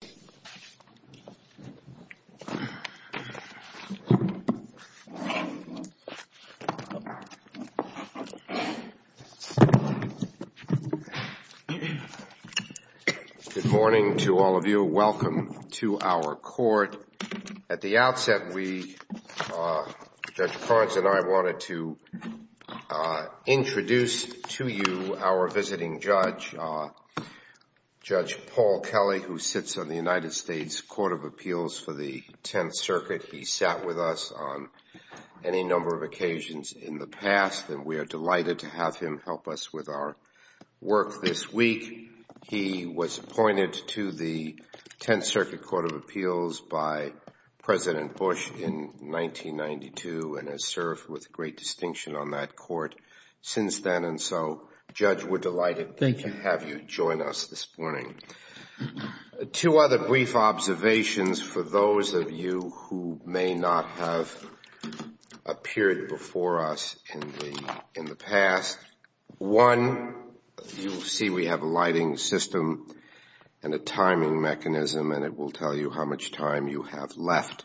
Good morning to all of you. Welcome to our court. At the outset, we, Judge Karnes and I wanted to introduce to you our visiting judge, Judge Paul Kelly, who sits on the United States Court of Appeals for the Tenth Circuit. He sat with us on any number of occasions in the past and we are delighted to have him help us with our work this week. He was appointed to the Tenth Circuit Court of Appeals by President Bush in 1992 and has served with great distinction on that court since then. And so, Judge, we're delighted to have you join us this morning. Two other brief observations for those of you who may not have appeared before us in the past. One, you'll see we have a lighting system and a timing mechanism and it will tell you how much time you have left.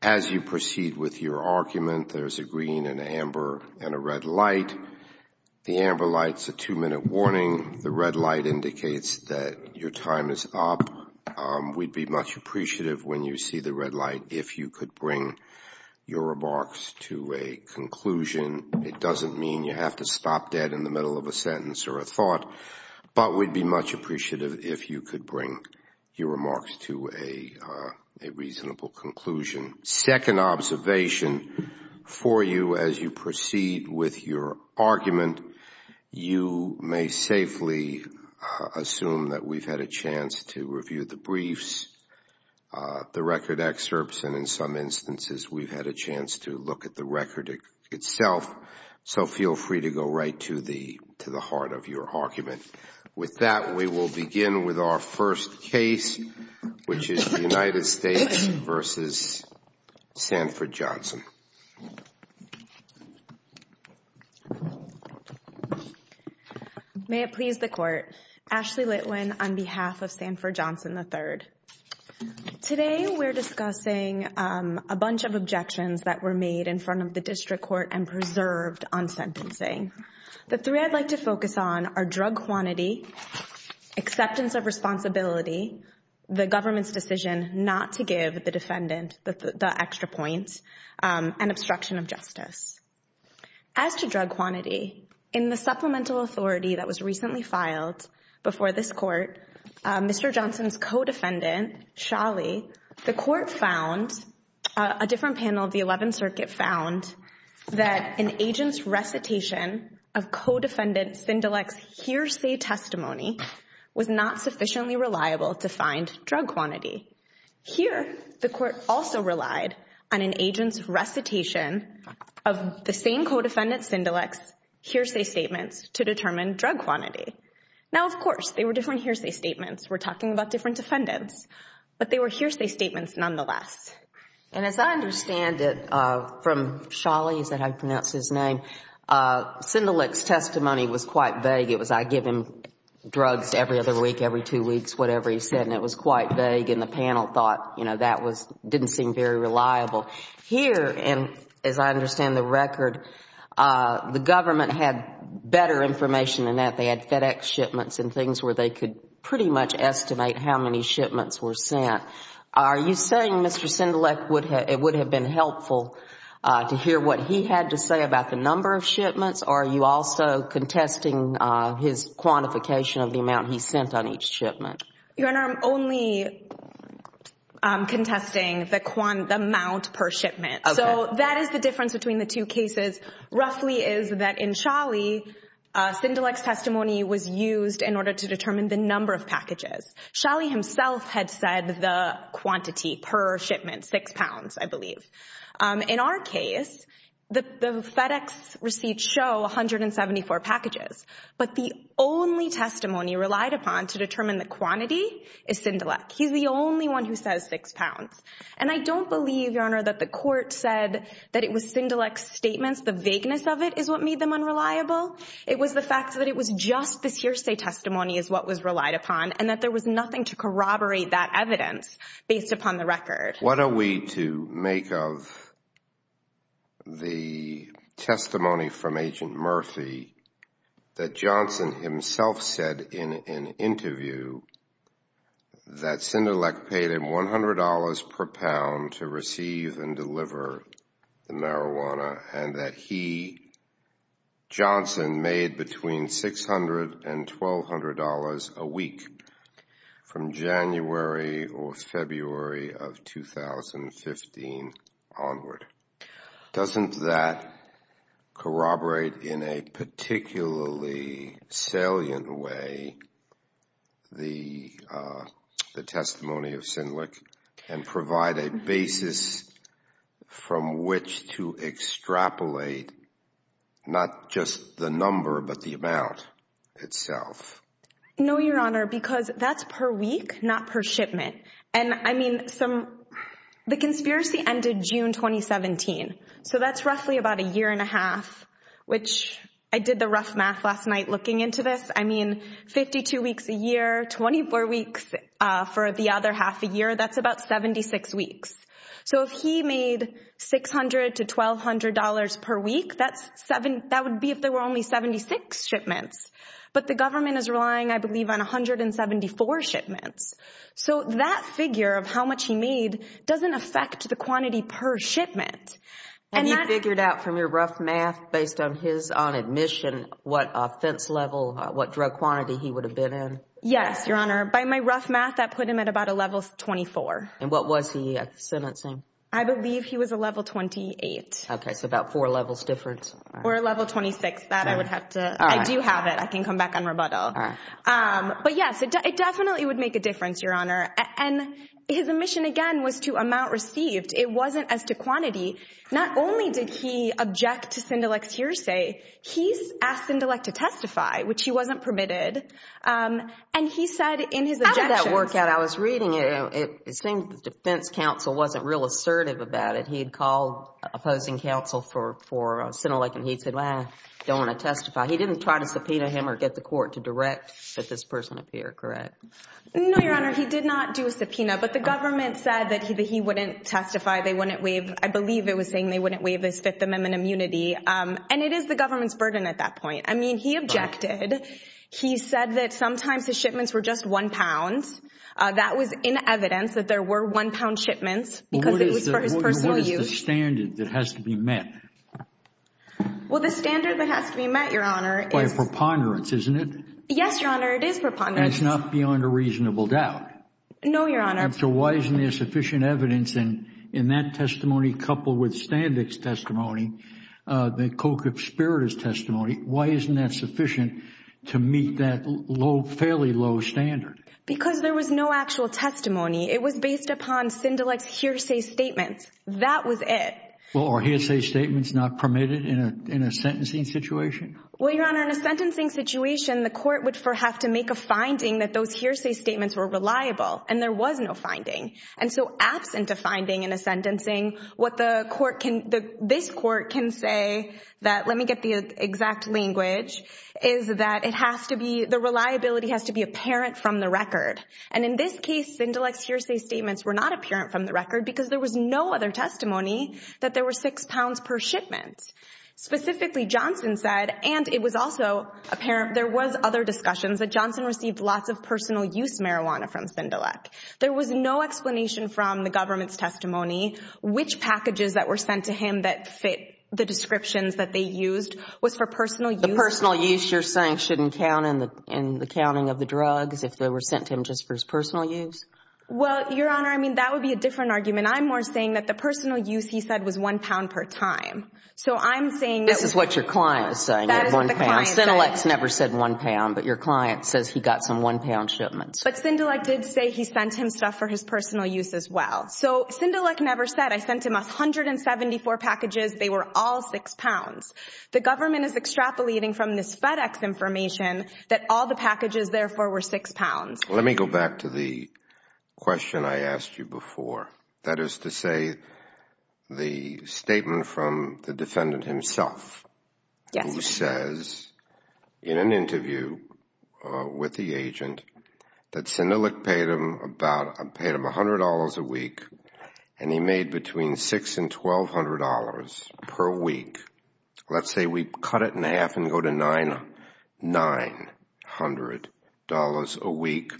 As you proceed with your argument, there's a green and amber and a red light. The amber light's a two-minute warning. The red light indicates that your time is up. We'd be much appreciative when you see the red light if you could bring your remarks to a conclusion. It doesn't mean you have to stop dead in the middle of a sentence or a thought, but we'd be much appreciative if you could bring your remarks to a reasonable conclusion. Second observation for you as you proceed with your argument, you may safely assume that we've had a chance to review the briefs, the record excerpts, and in some instances, we've had a chance to look at the record itself. So feel free to go right to the heart of your argument. With that, we will begin with our first case, which is United States v. Sanford Johnson. May it please the Court. Ashley Litwin on behalf of Sanford Johnson III. Today, we're discussing a bunch of objections that were made in front of the district court and preserved on sentencing. The three I'd like to focus on are drug quantity, acceptance of responsibility, the government's decision not to give the defendant the extra point, and obstruction of justice. As to drug quantity, in the supplemental authority that was recently filed before this found, a different panel of the 11th Circuit found that an agent's recitation of co-defendant Sindelic's hearsay testimony was not sufficiently reliable to find drug quantity. Here, the court also relied on an agent's recitation of the same co-defendant Sindelic's hearsay statements to determine drug quantity. Now, of course, they were different hearsay statements. We're talking about different defendants, but they were hearsay statements nonetheless. And as I understand it, from Sholly, is that how you pronounce his name, Sindelic's testimony was quite vague. It was, I give him drugs every other week, every two weeks, whatever he said, and it was quite vague, and the panel thought, you know, that didn't seem very reliable. Here, and as I understand the record, the government had better information than that. They had FedEx shipments and things where they could pretty much estimate how many shipments were sent. Are you saying, Mr. Sindelic, it would have been helpful to hear what he had to say about the number of shipments, or are you also contesting his quantification of the amount he sent on each shipment? Your Honor, I'm only contesting the amount per shipment. So that is the difference between the two cases, roughly is that in Sholly, Sindelic's testimony was used in order to determine the number of packages. Sholly himself had said the quantity per shipment, six pounds, I believe. In our case, the FedEx receipts show 174 packages. But the only testimony relied upon to determine the quantity is Sindelic. He's the only one who says six pounds. And I don't believe, Your Honor, that the court said that it was Sindelic's statements. The vagueness of it is what made them unreliable. It was the fact that it was just this hearsay testimony is what was relied upon, and that there was nothing to corroborate that evidence based upon the record. What are we to make of the testimony from Agent Murphy that Johnson himself said in an interview that Sindelic paid him $100 per pound to receive and deliver the marijuana, and that he, Johnson, made between $600 and $1,200 a week from January or February of the testimony of Sindelic, and provide a basis from which to extrapolate not just the number, but the amount itself? No, Your Honor, because that's per week, not per shipment. And I mean, the conspiracy ended June 2017. So that's roughly about a year and a half, which I did the rough math last week, and I mean, 52 weeks a year, 24 weeks for the other half a year, that's about 76 weeks. So if he made $600 to $1,200 per week, that would be if there were only 76 shipments. But the government is relying, I believe, on 174 shipments. So that figure of how much he made doesn't affect the quantity per shipment. And you figured out from your rough math based on his, on admission, what fence level, what drug quantity he would have been in? Yes, Your Honor. By my rough math, that put him at about a level 24. And what was he sentencing? I believe he was a level 28. Okay, so about four levels difference. Or a level 26. That I would have to, I do have it. I can come back and rebuttal. But yes, it definitely would make a difference, Your Honor. And his admission, again, was to amount received. It wasn't as to quantity. Not only did he object to Sendelec's hearsay, he asked Sendelec to testify, which he wasn't permitted. And he said in his objections— How did that work out? I was reading it. It seemed the defense counsel wasn't real assertive about it. He had called opposing counsel for Sendelec, and he said, well, I don't want to testify. He didn't try to subpoena him or get the court to direct that this person appear, correct? No, Your Honor. He did not do a subpoena. But the government said that he wouldn't testify. They wouldn't waive—I believe it was saying they wouldn't waive his Fifth Amendment immunity. And it is the government's burden at that point. I mean, he objected. He said that sometimes his shipments were just one pound. That was in evidence that there were one pound shipments because it was for his personal use. What is the standard that has to be met? Well, the standard that has to be met, Your Honor, is— By a preponderance, isn't it? Yes, Your Honor, it is preponderance. That's not beyond a reasonable doubt. No, Your Honor. So why isn't there sufficient evidence in that testimony coupled with Standick's testimony, the co-conspirator's testimony? Why isn't that sufficient to meet that low, fairly low standard? Because there was no actual testimony. It was based upon Sendelec's hearsay statements. That was it. Well, are hearsay statements not permitted in a sentencing situation? Well, Your Honor, in a sentencing situation, the court would have to make a finding that those hearsay statements were reliable, and there was no finding. And so absent a finding in a sentencing, what the court can—this court can say that—let me get the exact language—is that it has to be—the reliability has to be apparent from the record. And in this case, Sendelec's hearsay statements were not apparent from the record because there was no other testimony that there were six pounds per shipment. Specifically, Johnson said—and it was also apparent, there was other discussions—that Johnson received lots of personal use marijuana from Sendelec. There was no explanation from the government's testimony which packages that were sent to him that fit the descriptions that they used was for personal use. The personal use you're saying shouldn't count in the counting of the drugs if they were sent to him just for his personal use? Well, Your Honor, I mean, that would be a different argument. I'm more saying that the personal use, he said, was one pound per time. So I'm saying— This is what your client is saying, one pound. That is what the client is saying. Sendelec's never said one pound, but your client says he got some one-pound shipments. But Sendelec did say he sent him stuff for his personal use as well. So Sendelec never said, I sent him 174 packages, they were all six pounds. The government is extrapolating from this FedEx information that all the packages, therefore, were six pounds. Let me go back to the question I asked you before. That is to say the statement from the defendant himself who says in an interview with the agent that Sendelec paid him about $100 a week and he made between $600 and $1,200 per week. Let's say we cut it in half and we go to $900 a week,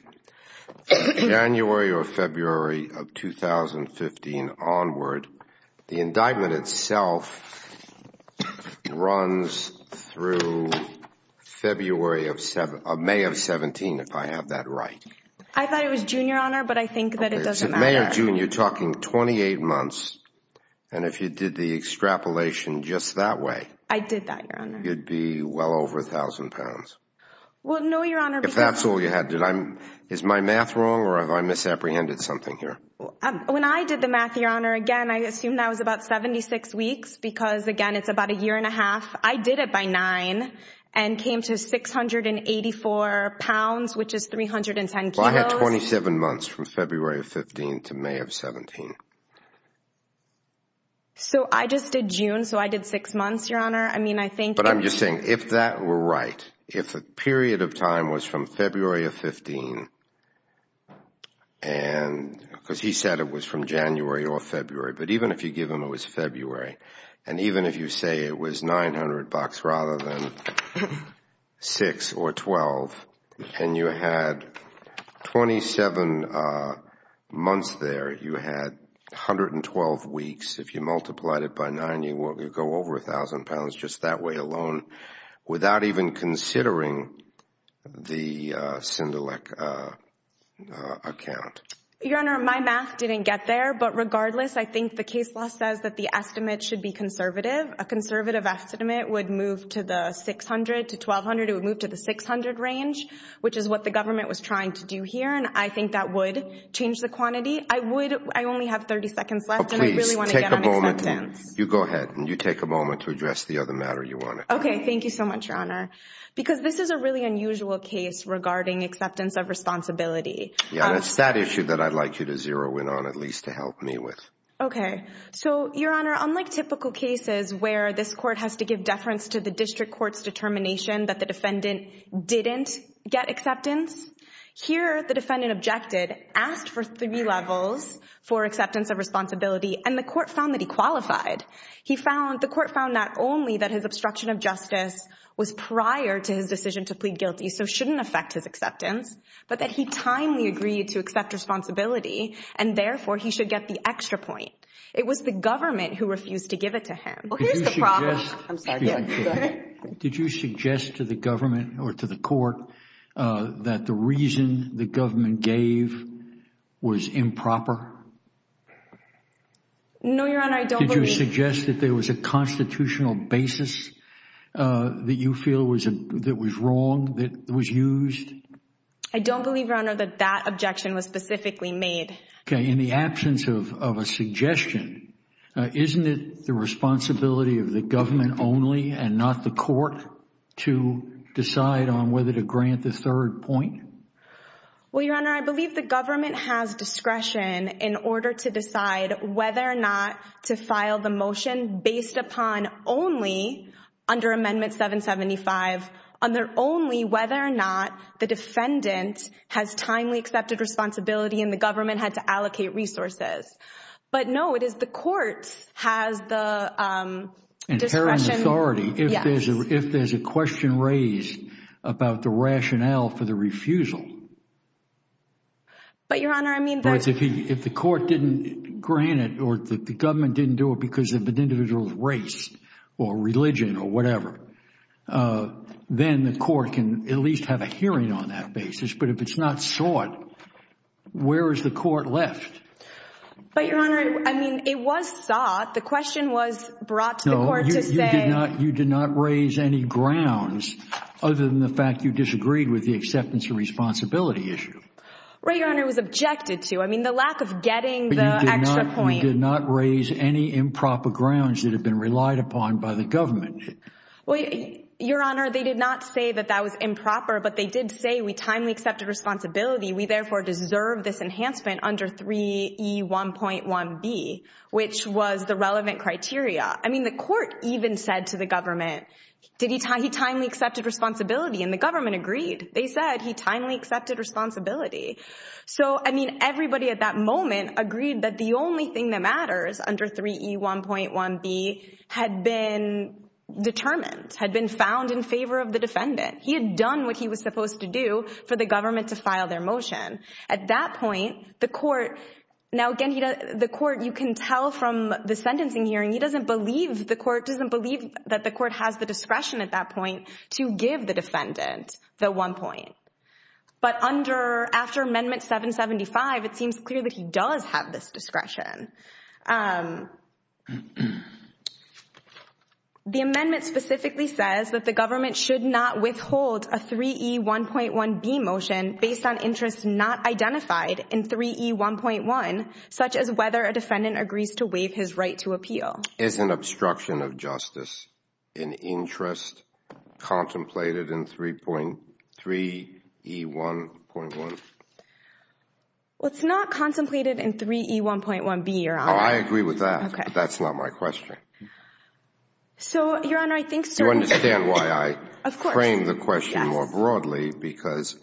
January or February of 2015 onward, the indictment itself runs through February of—May of 17, if I have that right. I thought it was June, Your Honor, but I think that it doesn't matter. It's May or June. You're talking 28 months. And if you did the extrapolation just that way— I did that, Your Honor. You'd be well over a thousand pounds. Well, no, Your Honor— If that's all you had. Is my math wrong or have I misapprehended something here? When I did the math, Your Honor, again, I assume that was about 76 weeks because, again, it's about a year and a half. I did it by nine and came to 684 pounds, which is 310 kilos. Well, I had 27 months from February of 15 to May of 17. So I just did June, so I did six months, Your Honor. I mean, I think— But I'm just saying, if that were right, if the period of time was from February of 15, because he said it was from January or February, but even if you give him it was February, and even if you say it was 900 bucks rather than six or twelve, and you had 27 months there, you had 112 weeks. If you multiplied it by nine, you'd go over a thousand pounds just that way alone without even considering the Cindelec account. Your Honor, my math didn't get there, but regardless, I think the case law says that the estimate should be conservative. A conservative estimate would move to the 600 to 1,200. It would move to the 600 range, which is what the government was trying to do here, and I think that would change the quantity. I would—I only have 30 seconds left, and I really want to get on acceptance. You go ahead, and you take a moment to address the other matter you wanted. Okay, thank you so much, Your Honor, because this is a really unusual case regarding acceptance of responsibility. Yeah, and it's that issue that I'd like you to zero in on, at least to help me with. Okay. So, Your Honor, unlike typical cases where this court has to give deference to the district court's determination that the defendant didn't get acceptance, here the defendant objected, asked for three levels for acceptance of responsibility, and the court declined. He found—the court found not only that his obstruction of justice was prior to his decision to plead guilty, so shouldn't affect his acceptance, but that he timely agreed to accept responsibility, and therefore, he should get the extra point. It was the government who refused to give it to him. Well, here's the problem— Did you suggest— I'm sorry. Go ahead. Did you suggest to the government or to the court that the reason the government gave was improper? No, Your Honor, I don't believe that. Did you suggest that there was a constitutional basis that you feel was—that was wrong, that was used? I don't believe, Your Honor, that that objection was specifically made. Okay. In the absence of a suggestion, isn't it the responsibility of the government only and not the court to decide on whether to grant the third point? Well, Your Honor, I believe the government has discretion in order to decide whether or not to file the motion based upon only under Amendment 775, under only whether or not the defendant has timely accepted responsibility and the government had to allocate resources. But, no, it is the court has the discretion— Inherent authority. Yes. If there's a question raised about the rationale for the refusal— But, Your Honor, I mean— If the court didn't grant it or the government didn't do it because of an individual's race or religion or whatever, then the court can at least have a hearing on that basis. But if it's not sought, where is the court left? But, Your Honor, I mean, it was sought. The question was brought to the court to say— No, you did not raise any grounds other than the fact you disagreed with the acceptance of responsibility issue. Right, Your Honor, it was objected to. I mean, the lack of getting the extra point— But you did not raise any improper grounds that have been relied upon by the government. Well, Your Honor, they did not say that that was improper, but they did say we timely accepted responsibility. We, therefore, deserve this enhancement under 3E1.1B, which was the relevant criteria. I mean, the court even said to the government, he timely accepted responsibility, and the government agreed. They said he timely accepted responsibility. So, I mean, everybody at that moment agreed that the only thing that matters under 3E1.1B had been determined, had been found in favor of the defendant. He had done what he was supposed to do for the government to file their motion. At that point, the court— Now, again, the court, you can tell from the sentencing hearing, he doesn't believe— the defendant, the one point. But under—after Amendment 775, it seems clear that he does have this discretion. The amendment specifically says that the government should not withhold a 3E1.1B motion based on interests not identified in 3E1.1, such as whether a defendant agrees as an obstruction of justice, an interest contemplated in 3E1.1. Well, it's not contemplated in 3E1.1B, Your Honor. Oh, I agree with that. Okay. But that's not my question. So, Your Honor, I think— Do you understand why I— Of course. —frame the question more broadly? Yes.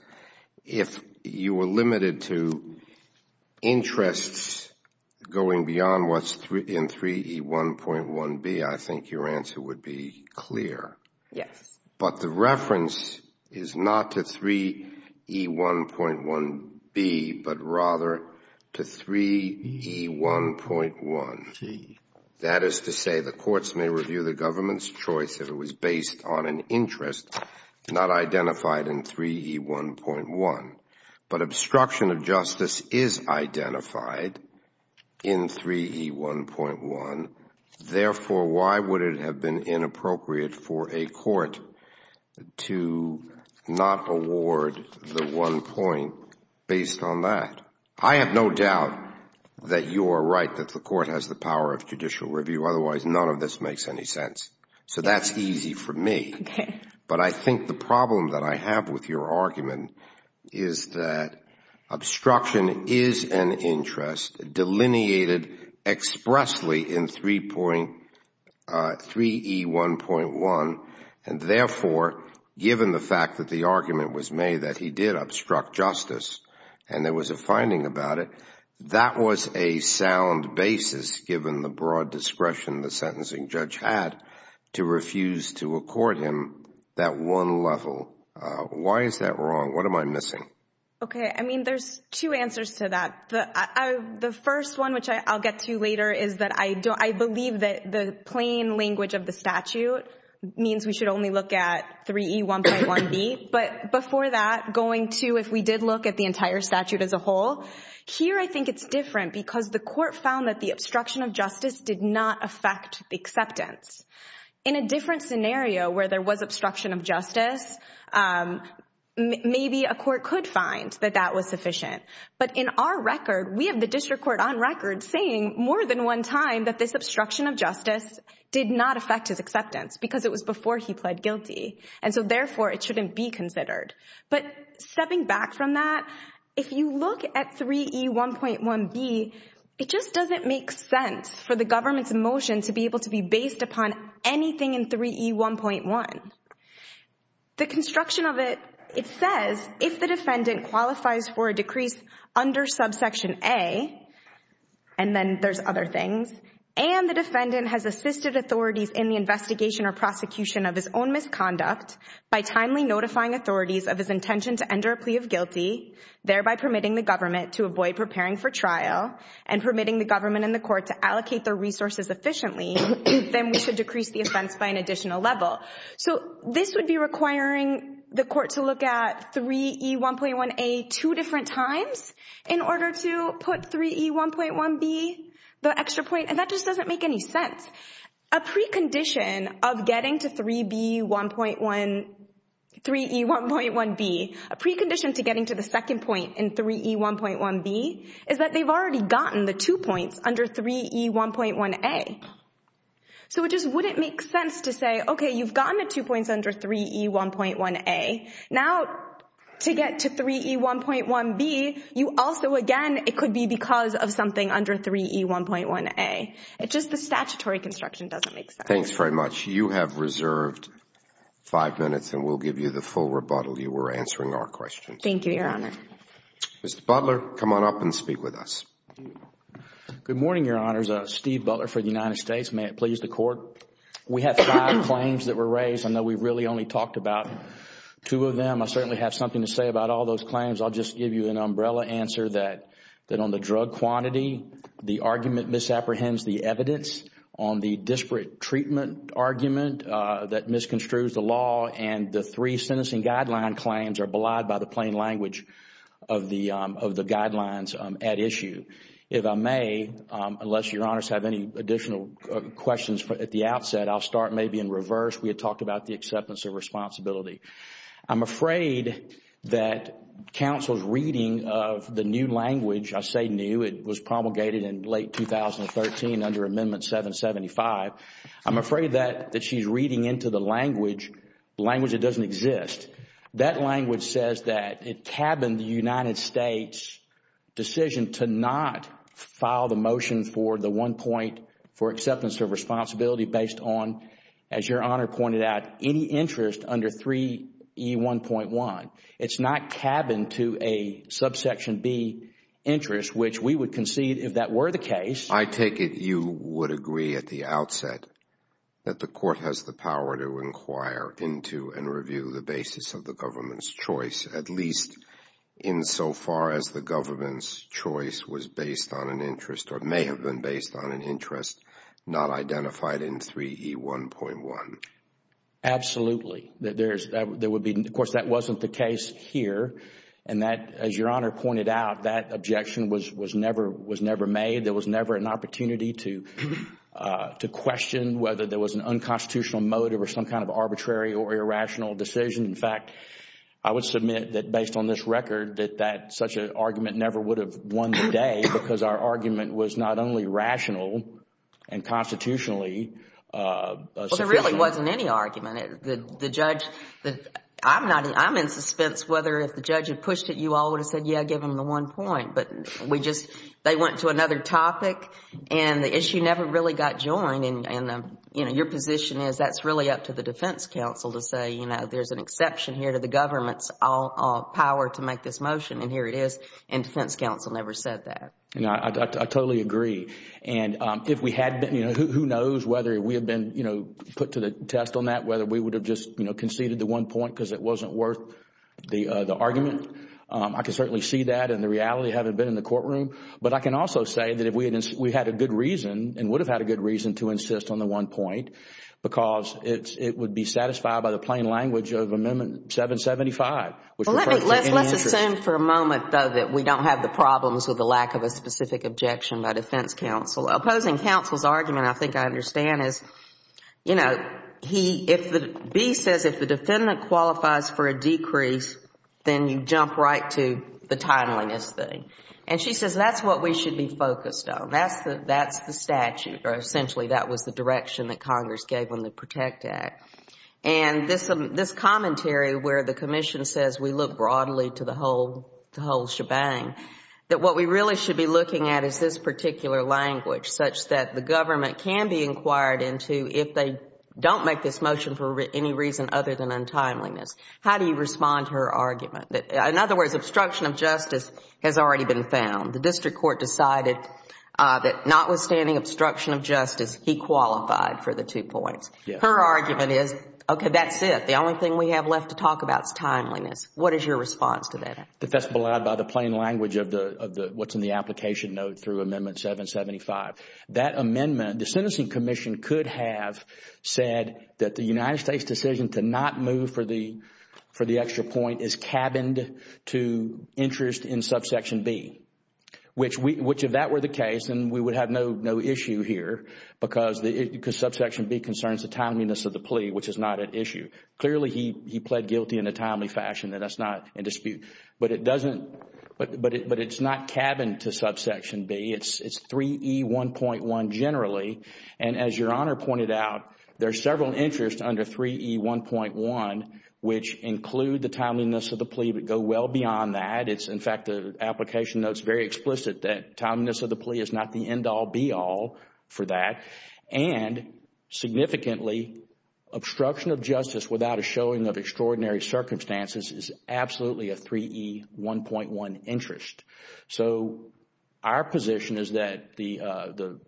If you were limited to interests going beyond what's in 3E1.1B, I think your answer would be clear. Yes. But the reference is not to 3E1.1B, but rather to 3E1.1. 3E1.1. That is to say, the courts may review the government's choice if it was based on an interest not identified in 3E1.1. But obstruction of justice is identified in 3E1.1. Therefore, why would it have been inappropriate for a court to not award the one point based on that? I have no doubt that you are right that the court has the power of judicial review. Otherwise, none of this makes any sense. So that's easy for me. Okay. But I think the problem that I have with your argument is that obstruction is an interest delineated expressly in 3E1.1, and therefore, given the fact that the argument was made that he did obstruct justice, and there was a finding about it, that was a sound basis, given the broad discretion the sentencing judge had to refuse to accord him that one level. Why is that wrong? What am I missing? Okay. I mean, there's two answers to that. The first one, which I'll get to later, is that I believe that the plain language of the statute means we should only look at 3E1.1B. But before that, going to, if we did look at the entire statute as a whole, here, I found that the obstruction of justice did not affect the acceptance. In a different scenario where there was obstruction of justice, maybe a court could find that that was sufficient. But in our record, we have the district court on record saying more than one time that this obstruction of justice did not affect his acceptance because it was before he pled guilty. And so therefore, it shouldn't be considered. But stepping back from that, if you look at 3E1.1B, it just doesn't make sense for the government's motion to be able to be based upon anything in 3E1.1. The construction of it, it says, if the defendant qualifies for a decrease under subsection A, and then there's other things, and the defendant has assisted authorities in the case of his intention to enter a plea of guilty, thereby permitting the government to avoid preparing for trial and permitting the government and the court to allocate their resources efficiently, then we should decrease the offense by an additional level. So this would be requiring the court to look at 3E1.1A two different times in order to put 3E1.1B, the extra point, and that just doesn't make any sense. A precondition of getting to 3B1.1, 3E1.1B, a precondition to getting to the second point in 3E1.1B is that they've already gotten the two points under 3E1.1A. So it just wouldn't make sense to say, okay, you've gotten the two points under 3E1.1A. Now, to get to 3E1.1B, you also, again, it could be because of something under 3E1.1A. Just the statutory construction doesn't make sense. Thanks very much. You have reserved five minutes and we'll give you the full rebuttal. You were answering our questions. Thank you, Your Honor. Mr. Butler, come on up and speak with us. Good morning, Your Honors. Steve Butler for the United States. May it please the Court. We have five claims that were raised. I know we really only talked about two of them. I certainly have something to say about all those claims. I'll just give you an umbrella answer that on the drug quantity, the argument misapprehends the evidence on the disparate treatment argument that misconstrues the law and the three sentencing guideline claims are belied by the plain language of the guidelines at issue. If I may, unless Your Honors have any additional questions at the outset, I'll start maybe in reverse. We had talked about the acceptance of responsibility. I'm afraid that counsel's reading of the new language, I say new, it was promulgated in late 2013 under Amendment 775. I'm afraid that she's reading into the language a language that doesn't exist. That language says that it cabined the United States' decision to not file the motion for the one point for acceptance of responsibility based on, as Your Honor pointed out, any interest under 3E1.1. It's not cabined to a subsection B interest, which we would concede if that were the case. I take it you would agree at the outset that the court has the power to inquire into and review the basis of the government's choice, at least insofar as the government's choice was based on an interest or may have been based on an interest not identified in 3E1.1. Absolutely. Of course, that wasn't the case here. As Your Honor pointed out, that objection was never made. There was never an opportunity to question whether there was an unconstitutional motive or some kind of arbitrary or irrational decision. In fact, I would submit that based on this record that such an argument never would have won the day because our argument was not only rational and constitutionally sufficient. There really wasn't any argument. I'm in suspense whether if the judge had pushed it, you all would have said, yeah, give them the one point. But they went to another topic and the issue never really got joined. Your position is that's really up to the defense counsel to say there's an exception here to the government's power to make this motion and here it is. Defense counsel never said that. I totally agree. Who knows whether we have been put to the test on that, whether we would have just conceded the one point because it wasn't worth the argument. I can certainly see that and the reality having been in the courtroom. But I can also say that if we had a good reason and would have had a good reason to insist on the one point because it would be satisfied by the plain language of Amendment 775. Let's assume for a moment though that we don't have the problems with the lack of a specific objection by defense counsel. Opposing counsel's argument, I think I understand, is B says if the defendant qualifies for a decrease, then you jump right to the timeliness thing. She says that's what we should be focused on. That's the statute or essentially that was the direction that Congress gave in the Protect Act. This commentary where the commission says we look broadly to the whole shebang, that what we really should be looking at is this particular language such that the government can be inquired into if they don't make this motion for any reason other than untimeliness. How do you respond to her argument? In other words, obstruction of justice has already been found. The district court decided that notwithstanding obstruction of justice, he qualified for the two points. Her argument is, okay, that's it. The only thing we have left to talk about is timeliness. What is your response to that? That's belied by the plain language of what's in the application note through Amendment 775. That amendment, the sentencing commission could have said that the United States decision to not move for the extra point is cabined to interest in subsection B, which if that were the case, then we would have no issue here because subsection B concerns the timeliness of the plea, which is not an issue. Clearly, he pled guilty in a timely fashion and that's not in dispute. But it's not cabined to subsection B. It's 3E1.1 generally. As Your Honor pointed out, there are several interests under 3E1.1, which include the timeliness of the plea, but go well beyond that. In fact, the application note is very explicit that timeliness of the plea is not the end-all be-all for that. And significantly, obstruction of justice without a showing of extraordinary circumstances is absolutely a 3E1.1 interest. So our position is that the...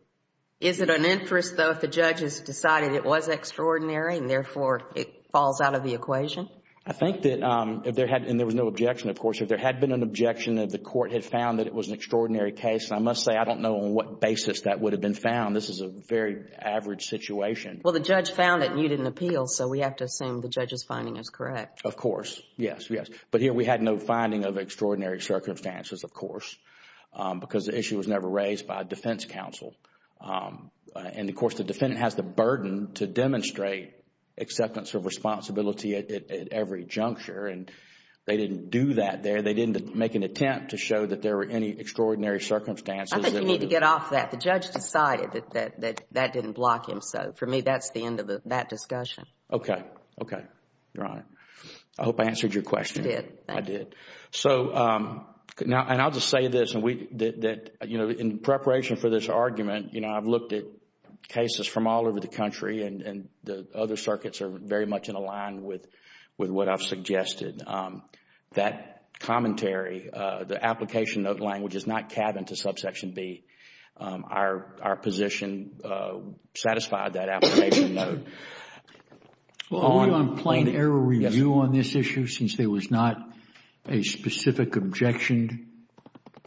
Is it an interest though if the judge has decided it was extraordinary and therefore it falls out of the equation? I think that if there had... and there was no objection, of course. If there had been an objection, if the court had found that it was an extraordinary case, I must say I don't know on what basis that would have been found. This is a very average situation. Well, the judge found it and you didn't appeal. So we have to assume the judge's finding is correct. Of course. Yes, yes. But here we had no finding of extraordinary circumstances, of course, because the issue was never raised by a defense counsel. And of course, the defendant has the burden to demonstrate acceptance of responsibility at every juncture. And they didn't do that there. They didn't make an attempt to show that there were any extraordinary circumstances. I think you need to get off that. The judge decided that that didn't block him. For me, that's the end of that discussion. Okay. Okay. Your Honor. I hope I answered your question. You did. Thank you. I did. I'll just say this. In preparation for this argument, I've looked at cases from all over the country and the other circuits are very much in align with what I've suggested. That commentary, the application note language is not cabinet to subsection B. Our position satisfied that application note. Are we on plain error review on this issue since there was not a specific objection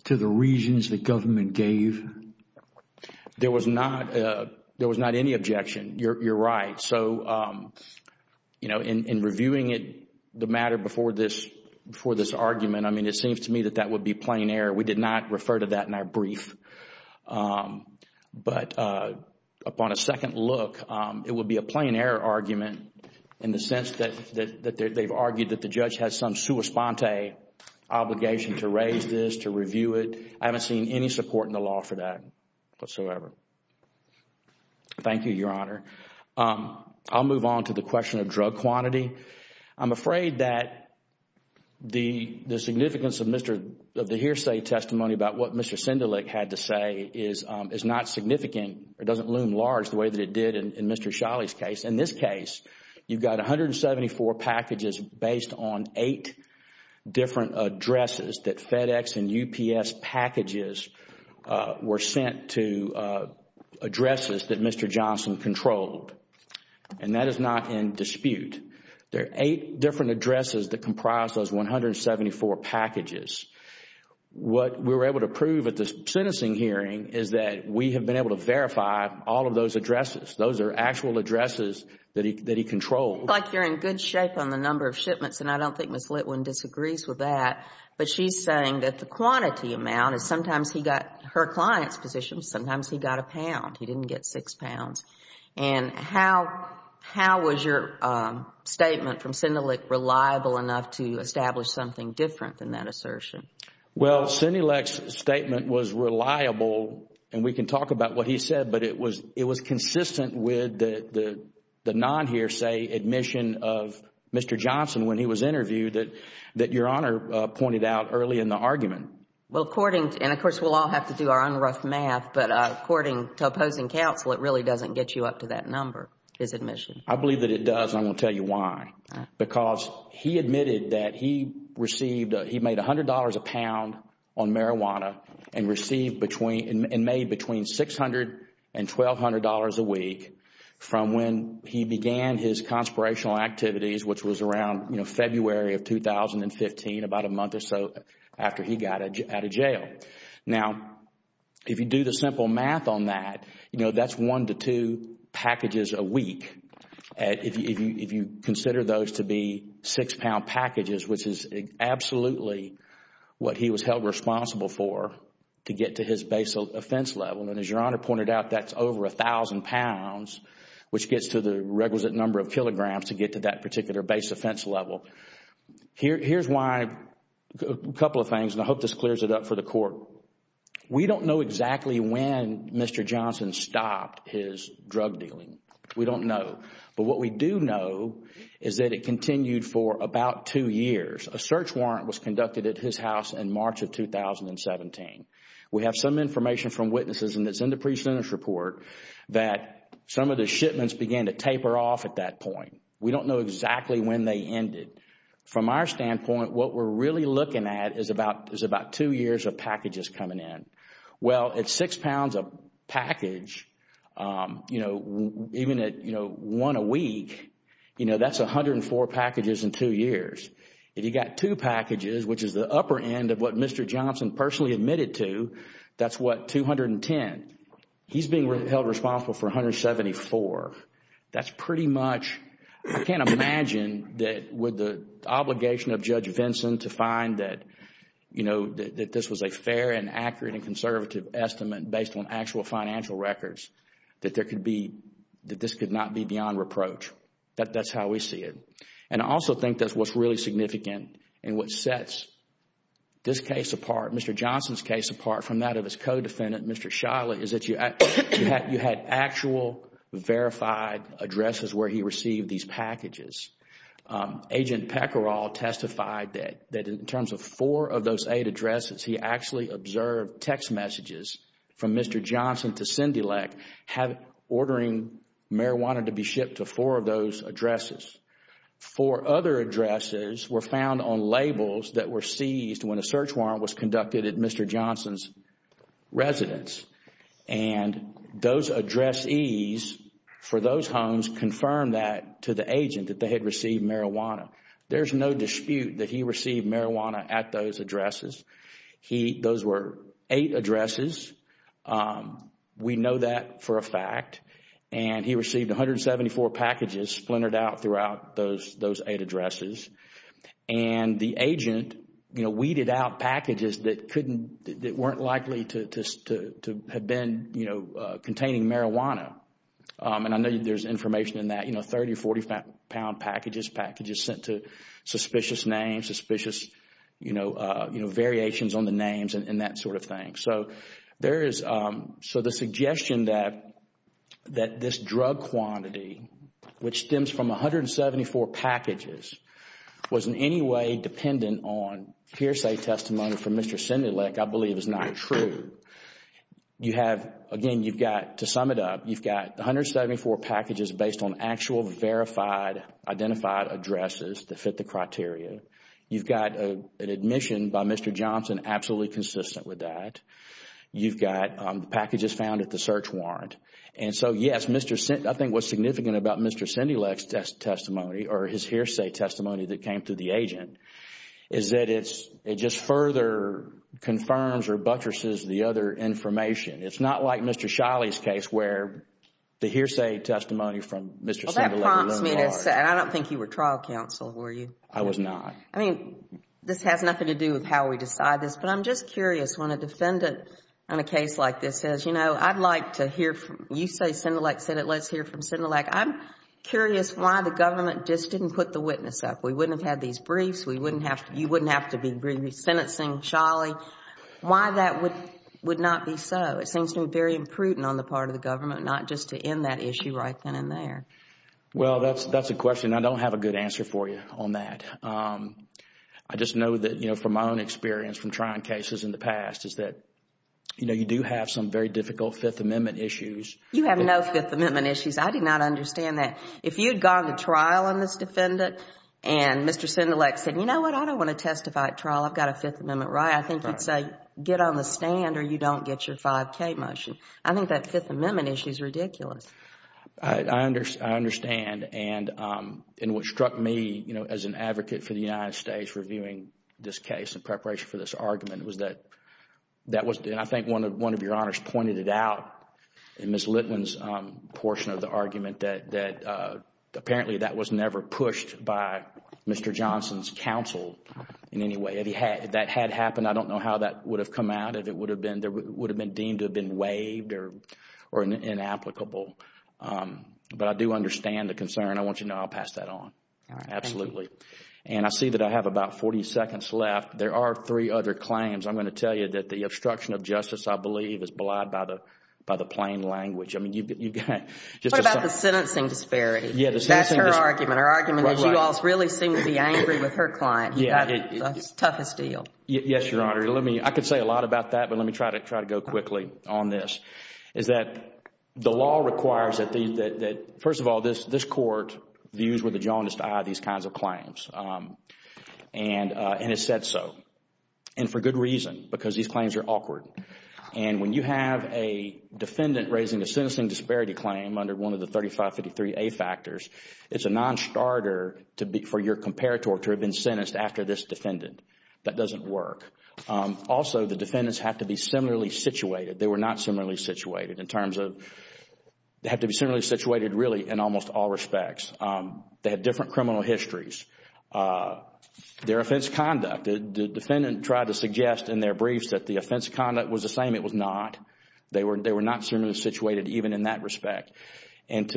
to the reasons the government gave? There was not any objection. You're right. So, you know, in reviewing it, the matter before this argument, I mean, it seems to me that that would be plain error. We did not refer to that in our brief. But upon a second look, it would be a plain error argument in the sense that they've argued that the judge has some sua sponte obligation to raise this, to review it. I haven't seen any support in the law for that whatsoever. Thank you, Your Honor. I'll move on to the question of drug quantity. I'm afraid that the significance of the hearsay testimony about what Mr. Sindelik had to say is not significant. It doesn't loom large the way that it did in Mr. Shiley's case. In this case, you've got 174 packages based on eight different addresses that FedEx and he controlled, and that is not in dispute. There are eight different addresses that comprise those 174 packages. What we were able to prove at the sentencing hearing is that we have been able to verify all of those addresses. Those are actual addresses that he controlled. It looks like you're in good shape on the number of shipments, and I don't think Ms. Litwin disagrees with that. But she's saying that the quantity amount is sometimes he got her client's position, sometimes he got a pound. He didn't get six pounds. And how was your statement from Sindelik reliable enough to establish something different than that assertion? Well, Sindelik's statement was reliable, and we can talk about what he said, but it was consistent with the non-hearsay admission of Mr. Johnson when he was interviewed that Your Honor pointed out early in the argument. And of course, we'll all have to do our own rough math, but according to opposing counsel, it really doesn't get you up to that number, his admission. I believe that it does, and I'm going to tell you why. Because he admitted that he made $100 a pound on marijuana and made between $600 and $1,200 a week from when he began his conspirational activities, which was around February of 2015, about a month or so after he got out of jail. Now, if you do the simple math on that, that's one to two packages a week. If you consider those to be six pound packages, which is absolutely what he was held responsible for to get to his base offense level, and as Your Honor pointed out, that's over a thousand pounds, which gets to the requisite number of kilograms to get to that particular base offense level. Here's why, a couple of things, and I hope this clears it up for the court. We don't know exactly when Mr. Johnson stopped his drug dealing. We don't know. But what we do know is that it continued for about two years. A search warrant was conducted at his house in March of 2017. We have some information from witnesses, and it's in the pre-sentence report, that some of the shipments began to taper off at that point. We don't know exactly when they ended. From our standpoint, what we're really looking at is about two years of packages coming in. Well, at six pounds a package, even at one a week, that's 104 packages in two years. If you've got two packages, which is the upper end of what Mr. Johnson personally admitted to, that's what, 210. He's being held responsible for 174. I can't imagine that with the obligation of Judge Vinson to find that this was a fair and accurate and conservative estimate based on actual financial records, that this could not be beyond reproach. That's how we see it. I also think that what's really significant and what sets this case apart, Mr. Johnson's case apart from that of his co-defendant, Mr. Shiloh, is that you had actual verified addresses where he received these packages. Agent Peckerall testified that in terms of four of those eight addresses, he actually observed text messages from Mr. Johnson to CINDYLEC ordering marijuana to be shipped to four of those addresses. Four other addresses were found on labels that were seized when a search warrant was issued for Mr. Johnson's residence. Those addressees for those homes confirmed that to the agent that they had received marijuana. There's no dispute that he received marijuana at those addresses. Those were eight addresses. We know that for a fact. He received 174 packages splintered out throughout those eight addresses. The agent weeded out packages that weren't likely to have been containing marijuana. I know there's information in that, 30 or 40 pound packages, packages sent to suspicious names, suspicious variations on the names and that sort of thing. The suggestion that this drug quantity, which stems from 174 packages, was in any way dependent on hearsay testimony from Mr. CINDYLEC, I believe is not true. Again, to sum it up, you've got 174 packages based on actual verified, identified addresses that fit the criteria. You've got an admission by Mr. Johnson absolutely consistent with that. You've got packages found at the search warrant. Yes, I think what's significant about Mr. CINDYLEC's testimony or his hearsay testimony that came to the agent is that it just further confirms or buttresses the other information. It's not like Mr. Shiley's case where the hearsay testimony from Mr. CINDYLEC. That prompts me to say, I don't think you were trial counsel, were you? I was not. I mean, this has nothing to do with how we decide this, but I'm just curious when a defendant on a case like this says, you know, I'd like to hear, you say CINDYLEC said it, let's hear from CINDYLEC. I'm curious why the government just didn't put the witness up. We wouldn't have had these briefs. You wouldn't have to be sentencing Shiley. Why that would not be so? It seems to me very imprudent on the part of the government not just to end that issue right then and there. Well, that's a question I don't have a good answer for you on that. I just know that, you know, from my own experience from trying cases in the past is that, you know, you do have some very difficult Fifth Amendment issues. You have no Fifth Amendment issues. I did not understand that. If you had gone to trial on this defendant and Mr. CINDYLEC said, you know what, I don't want to testify at trial. I've got a Fifth Amendment right. I think you'd say, get on the stand or you don't get your 5K motion. I think that Fifth Amendment issue is ridiculous. I understand and what struck me, you know, as an advocate for the United States reviewing this case in preparation for this argument was that, I think one of your honors pointed it out in Ms. Litman's portion of the argument that apparently that was never pushed by Mr. Johnson's counsel in any way. If that had happened, I don't know how that would have come out. It would have been deemed to have been waived or inapplicable. But I do understand the concern. I want you to know I'll pass that on. Absolutely. And I see that I have about 40 seconds left. There are three other claims. I'm going to tell you that the obstruction of justice, I believe, is belied by the plain language. I mean, you've got just a... What about the sentencing disparity? Yeah, the sentencing... That's her argument. Her argument is you all really seem to be angry with her client. Yeah. That's the toughest deal. Yes, Your Honor. Let me... I could say a lot about that, but let me try to go quickly on this, is that the law requires that the... First of all, this Court views with the jaundiced eye these kinds of claims, and it said so. And for good reason, because these claims are awkward. And when you have a defendant raising a sentencing disparity claim under one of the 3553A factors, it's a non-starter for your comparator to have been sentenced after this defendant. That doesn't work. Also, the defendants have to be similarly situated. They were not similarly situated in terms of... They have to be similarly situated, really, in almost all respects. They have different criminal histories. Their offense conduct, the defendant tried to suggest in their briefs that the offense conduct was the same. It was not. They were not similarly situated even in that respect. And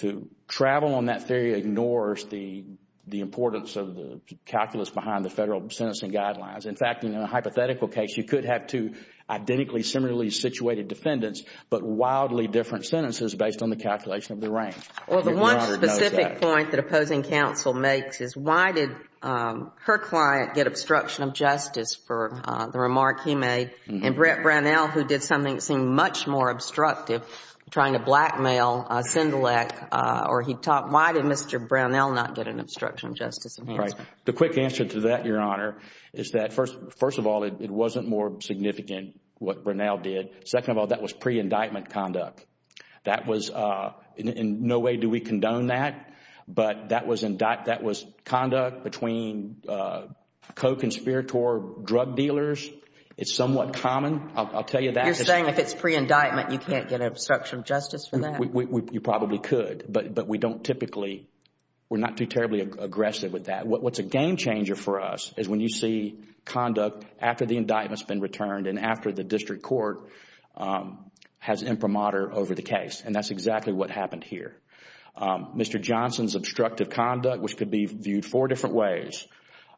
to travel on that theory ignores the importance of the calculus behind the federal sentencing guidelines. In fact, in a hypothetical case, you could have two identically similarly situated defendants, but wildly different sentences based on the calculation of the range. Well, the one specific point that opposing counsel makes is why did her client get obstruction of justice for the remark he made, and Brett Brownell, who did something that seemed much more obstructive, trying to blackmail Sendilek, or he taught... Why did Mr. Brownell not get an obstruction of justice enhancement? The quick answer to that, Your Honor, is that, first of all, it wasn't more significant what Brownell did. Second of all, that was pre-indictment conduct. That was... In no way do we condone that, but that was conduct between co-conspirator drug dealers. It's somewhat common. I'll tell you that. You're saying if it's pre-indictment, you can't get obstruction of justice for that? You probably could, but we don't typically, we're not too terribly aggressive with that. What's a game changer for us is when you see conduct after the indictment's been returned and after the district court has imprimatur over the case, and that's exactly what happened here. Mr. Johnson's obstructive conduct, which could be viewed four different ways,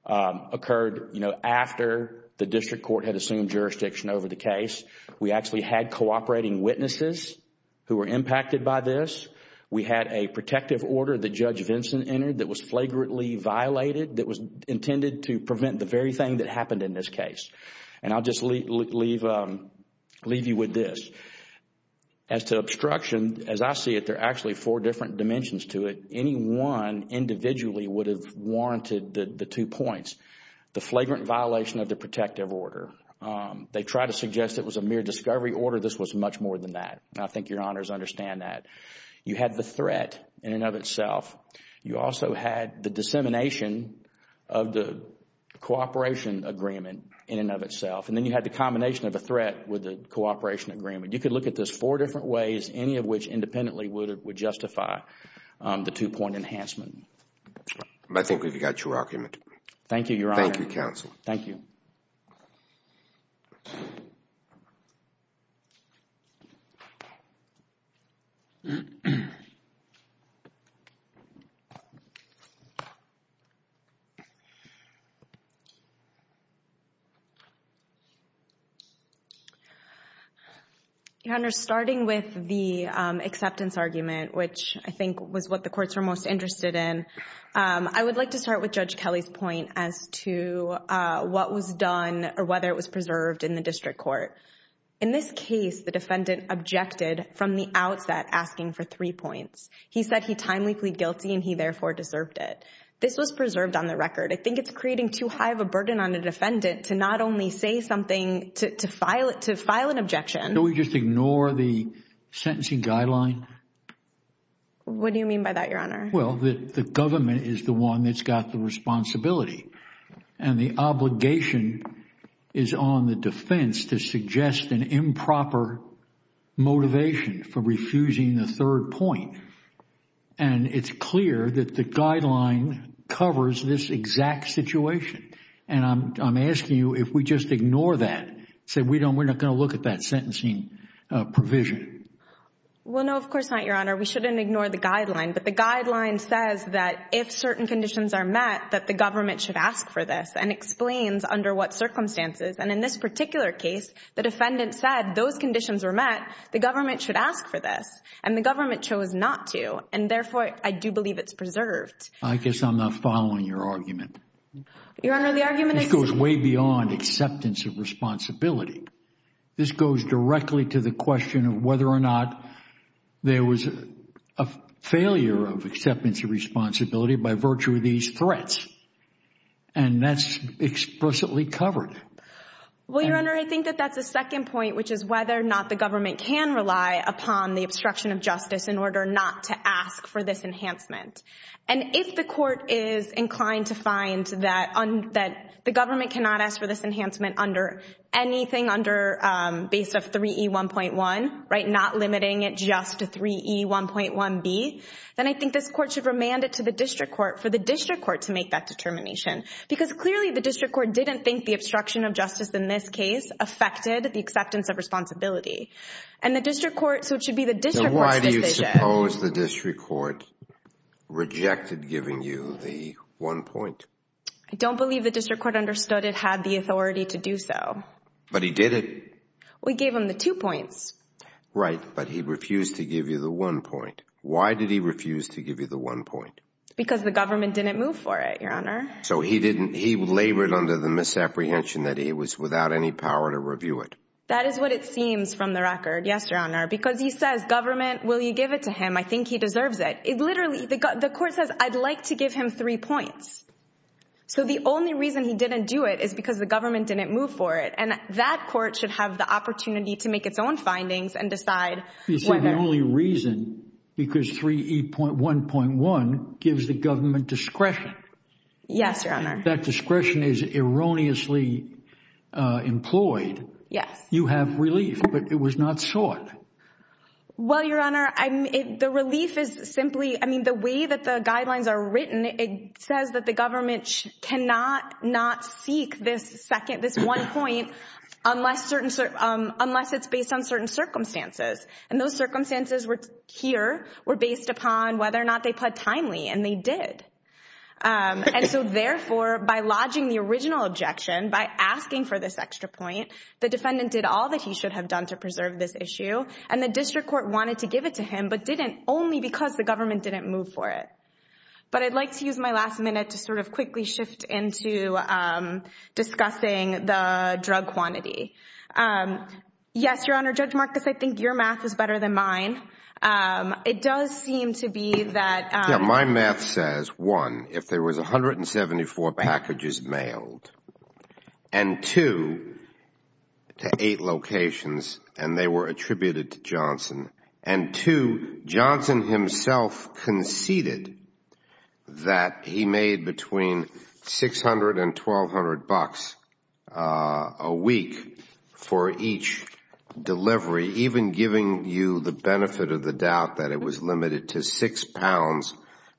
occurred after the district court had assumed jurisdiction over the case. We actually had cooperating witnesses who were impacted by this. We had a protective order that Judge Vinson entered that was flagrantly violated that was intended to prevent the very thing that happened in this case. I'll just leave you with this. As to obstruction, as I see it, there are actually four different dimensions to it. Any one individually would have warranted the two points. The flagrant violation of the protective order. They tried to suggest it was a mere discovery order. This was much more than that. I think your honors understand that. You had the threat in and of itself. You also had the dissemination of the cooperation agreement in and of itself. Then you had the combination of a threat with the cooperation agreement. You could look at this four different ways, any of which independently would justify the two-point enhancement. I think we've got your argument. Thank you, your honor. Thank you, counsel. Your honor, starting with the acceptance argument, which I think was what the courts were most interested in, I would like to start with Judge Kelly's point as to what was done or whether it was preserved in the district court. In this case, the defendant objected from the outset asking for three points. He said he timely plead guilty and he therefore deserved it. This was preserved on the record. I think it's creating too high of a burden on a defendant to not only say something, to file an objection. Don't we just ignore the sentencing guideline? What do you mean by that, your honor? Well, the government is the one that's got the responsibility. The obligation is on the defense to suggest an improper motivation for refusing the third point. It's clear that the guideline covers this exact situation. I'm asking you if we just ignore that, say we're not going to look at that sentencing provision. Well, no, of course not, your honor. We shouldn't ignore the guideline, but the guideline says that if certain conditions are met, that the government should ask for this and explains under what circumstances. And in this particular case, the defendant said those conditions were met, the government should ask for this and the government chose not to. And therefore, I do believe it's preserved. I guess I'm not following your argument. Your honor, the argument is... This goes way beyond acceptance of responsibility. This goes directly to the question of whether or not there was a failure of acceptance of responsibility by virtue of these threats. And that's explicitly covered. Well, your honor, I think that that's the second point, which is whether or not the government can rely upon the obstruction of justice in order not to ask for this enhancement. And if the court is inclined to find that the government cannot ask for this enhancement under anything based on 3E1.1, not limiting it just to 3E1.1b, then I think this court should remand it to the district court for the district court to make that determination. Because clearly the district court didn't think the obstruction of justice in this case affected the acceptance of responsibility. And the district court... So why do you suppose the district court rejected giving you the one point? I don't believe the district court understood it had the authority to do so. But he did it. We gave him the two points. Right, but he refused to give you the one point. Why did he refuse to give you the one point? Because the government didn't move for it, your honor. So he labored under the misapprehension that he was without any power to review it. That is what it seems from the record, yes, your honor. Because he says, government, will you give it to him? I think he deserves it. Literally, the court says, I'd like to give him three points. So the only reason he didn't do it is because the government didn't move for it. And that court should have the opportunity to make its own findings and decide whether... You say the only reason because 3E1.1 gives the government discretion. Yes, your honor. That discretion is erroneously employed. Yes. You have relief, but it was not sought. Well, your honor, the relief is simply... I mean, the way that the guidelines are written, it says that the government cannot not seek this one point unless it's based on certain circumstances. And those circumstances here were based upon whether or not they pled timely, and they did. And so therefore, by lodging the original objection, by asking for this extra point, the defendant did all that he should have done to preserve this issue. And the district court wanted to give it to him, but didn't, only because the government didn't move for it. But I'd like to use my last minute to sort of quickly shift into discussing the drug quantity. Yes, your honor, Judge Marcus, I think your math is better than mine. It does seem to be that... Yeah, my math says, one, if there was 174 packages mailed, and two, to eight locations, and they were attributed to Johnson. And two, Johnson himself conceded that he made between 600 and 1,200 bucks a week for each delivery, even giving you the benefit of the doubt that it was limited to 6 pounds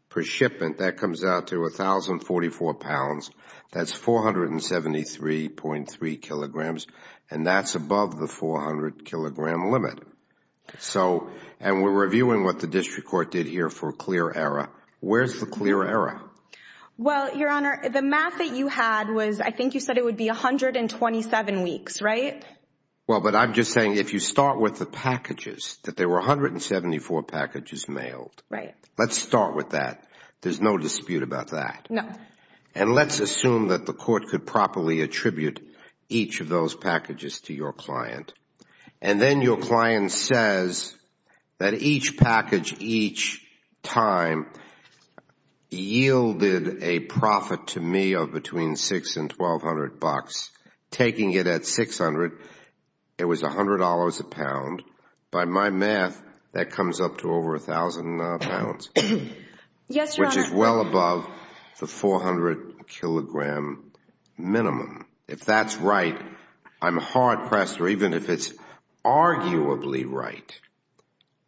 per shipment. That comes out to 1,044 pounds. That's 473.3 kilograms, and that's above the 400-kilogram limit. So, and we're reviewing what the district court did here for clear error. Where's the clear error? Well, your honor, the math that you had was, I think you said it would be 127 weeks, right? Well, but I'm just saying, if you start with the packages, that there were 174 packages mailed. Let's start with that. There's no dispute about that. No. And let's assume that the court could properly attribute each of those packages to your client. And then your client says that each package, each time, yielded a profit to me of between 6 and 1,200 bucks. Taking it at 600, it was $100 a pound. By my math, that comes up to over 1,000 pounds. Yes, your honor. Which is well above the 400-kilogram minimum. If that's right, I'm hard-pressed, or even if it's arguably right,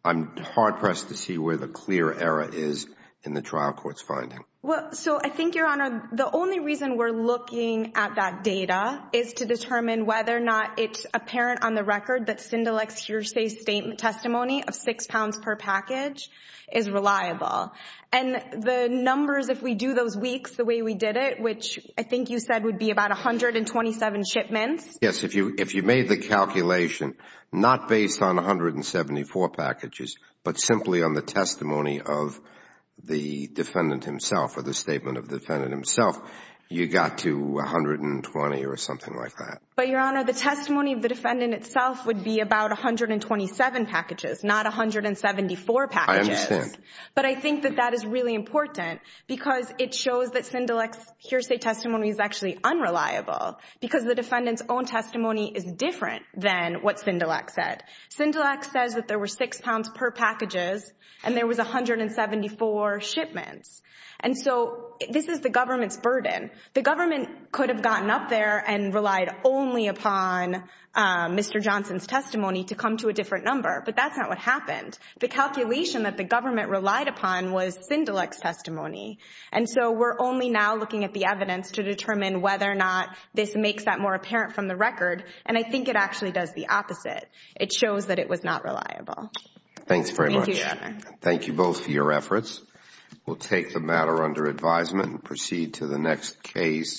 I'm hard-pressed to see where the clear error is in the trial court's finding. Well, so I think, your honor, the only reason we're looking at that data is to determine whether or not it's apparent on the record that Sindelec's hearsay testimony of 6 pounds per package is reliable. And the numbers, if we do those weeks the way we did it, which I think you said would be about 127 shipments. Yes, if you made the calculation not based on 174 packages, but simply on the testimony of the defendant himself, or the statement of the defendant himself, you got to 120 or something like that. But, your honor, the testimony of the defendant itself would be about 127 packages, not 174 packages. I understand. But I think that that is really important because it shows that Sindelec's hearsay testimony is actually unreliable because the defendant's own testimony is different than what Sindelec said. Sindelec says that there were 6 pounds per packages and there was 174 shipments. And so, this is the government's burden. The government could have gotten up there and relied only upon Mr. Johnson's testimony to come to a different number. But that's not what happened. The calculation that the government relied upon was Sindelec's testimony. And so, we're only now looking at the evidence to determine whether or not this makes that more apparent from the record. And I think it actually does the opposite. It shows that it was not reliable. Thanks very much. Thank you, your honor. Thank you both for your efforts. We'll take the matter under advisement and proceed to the next case.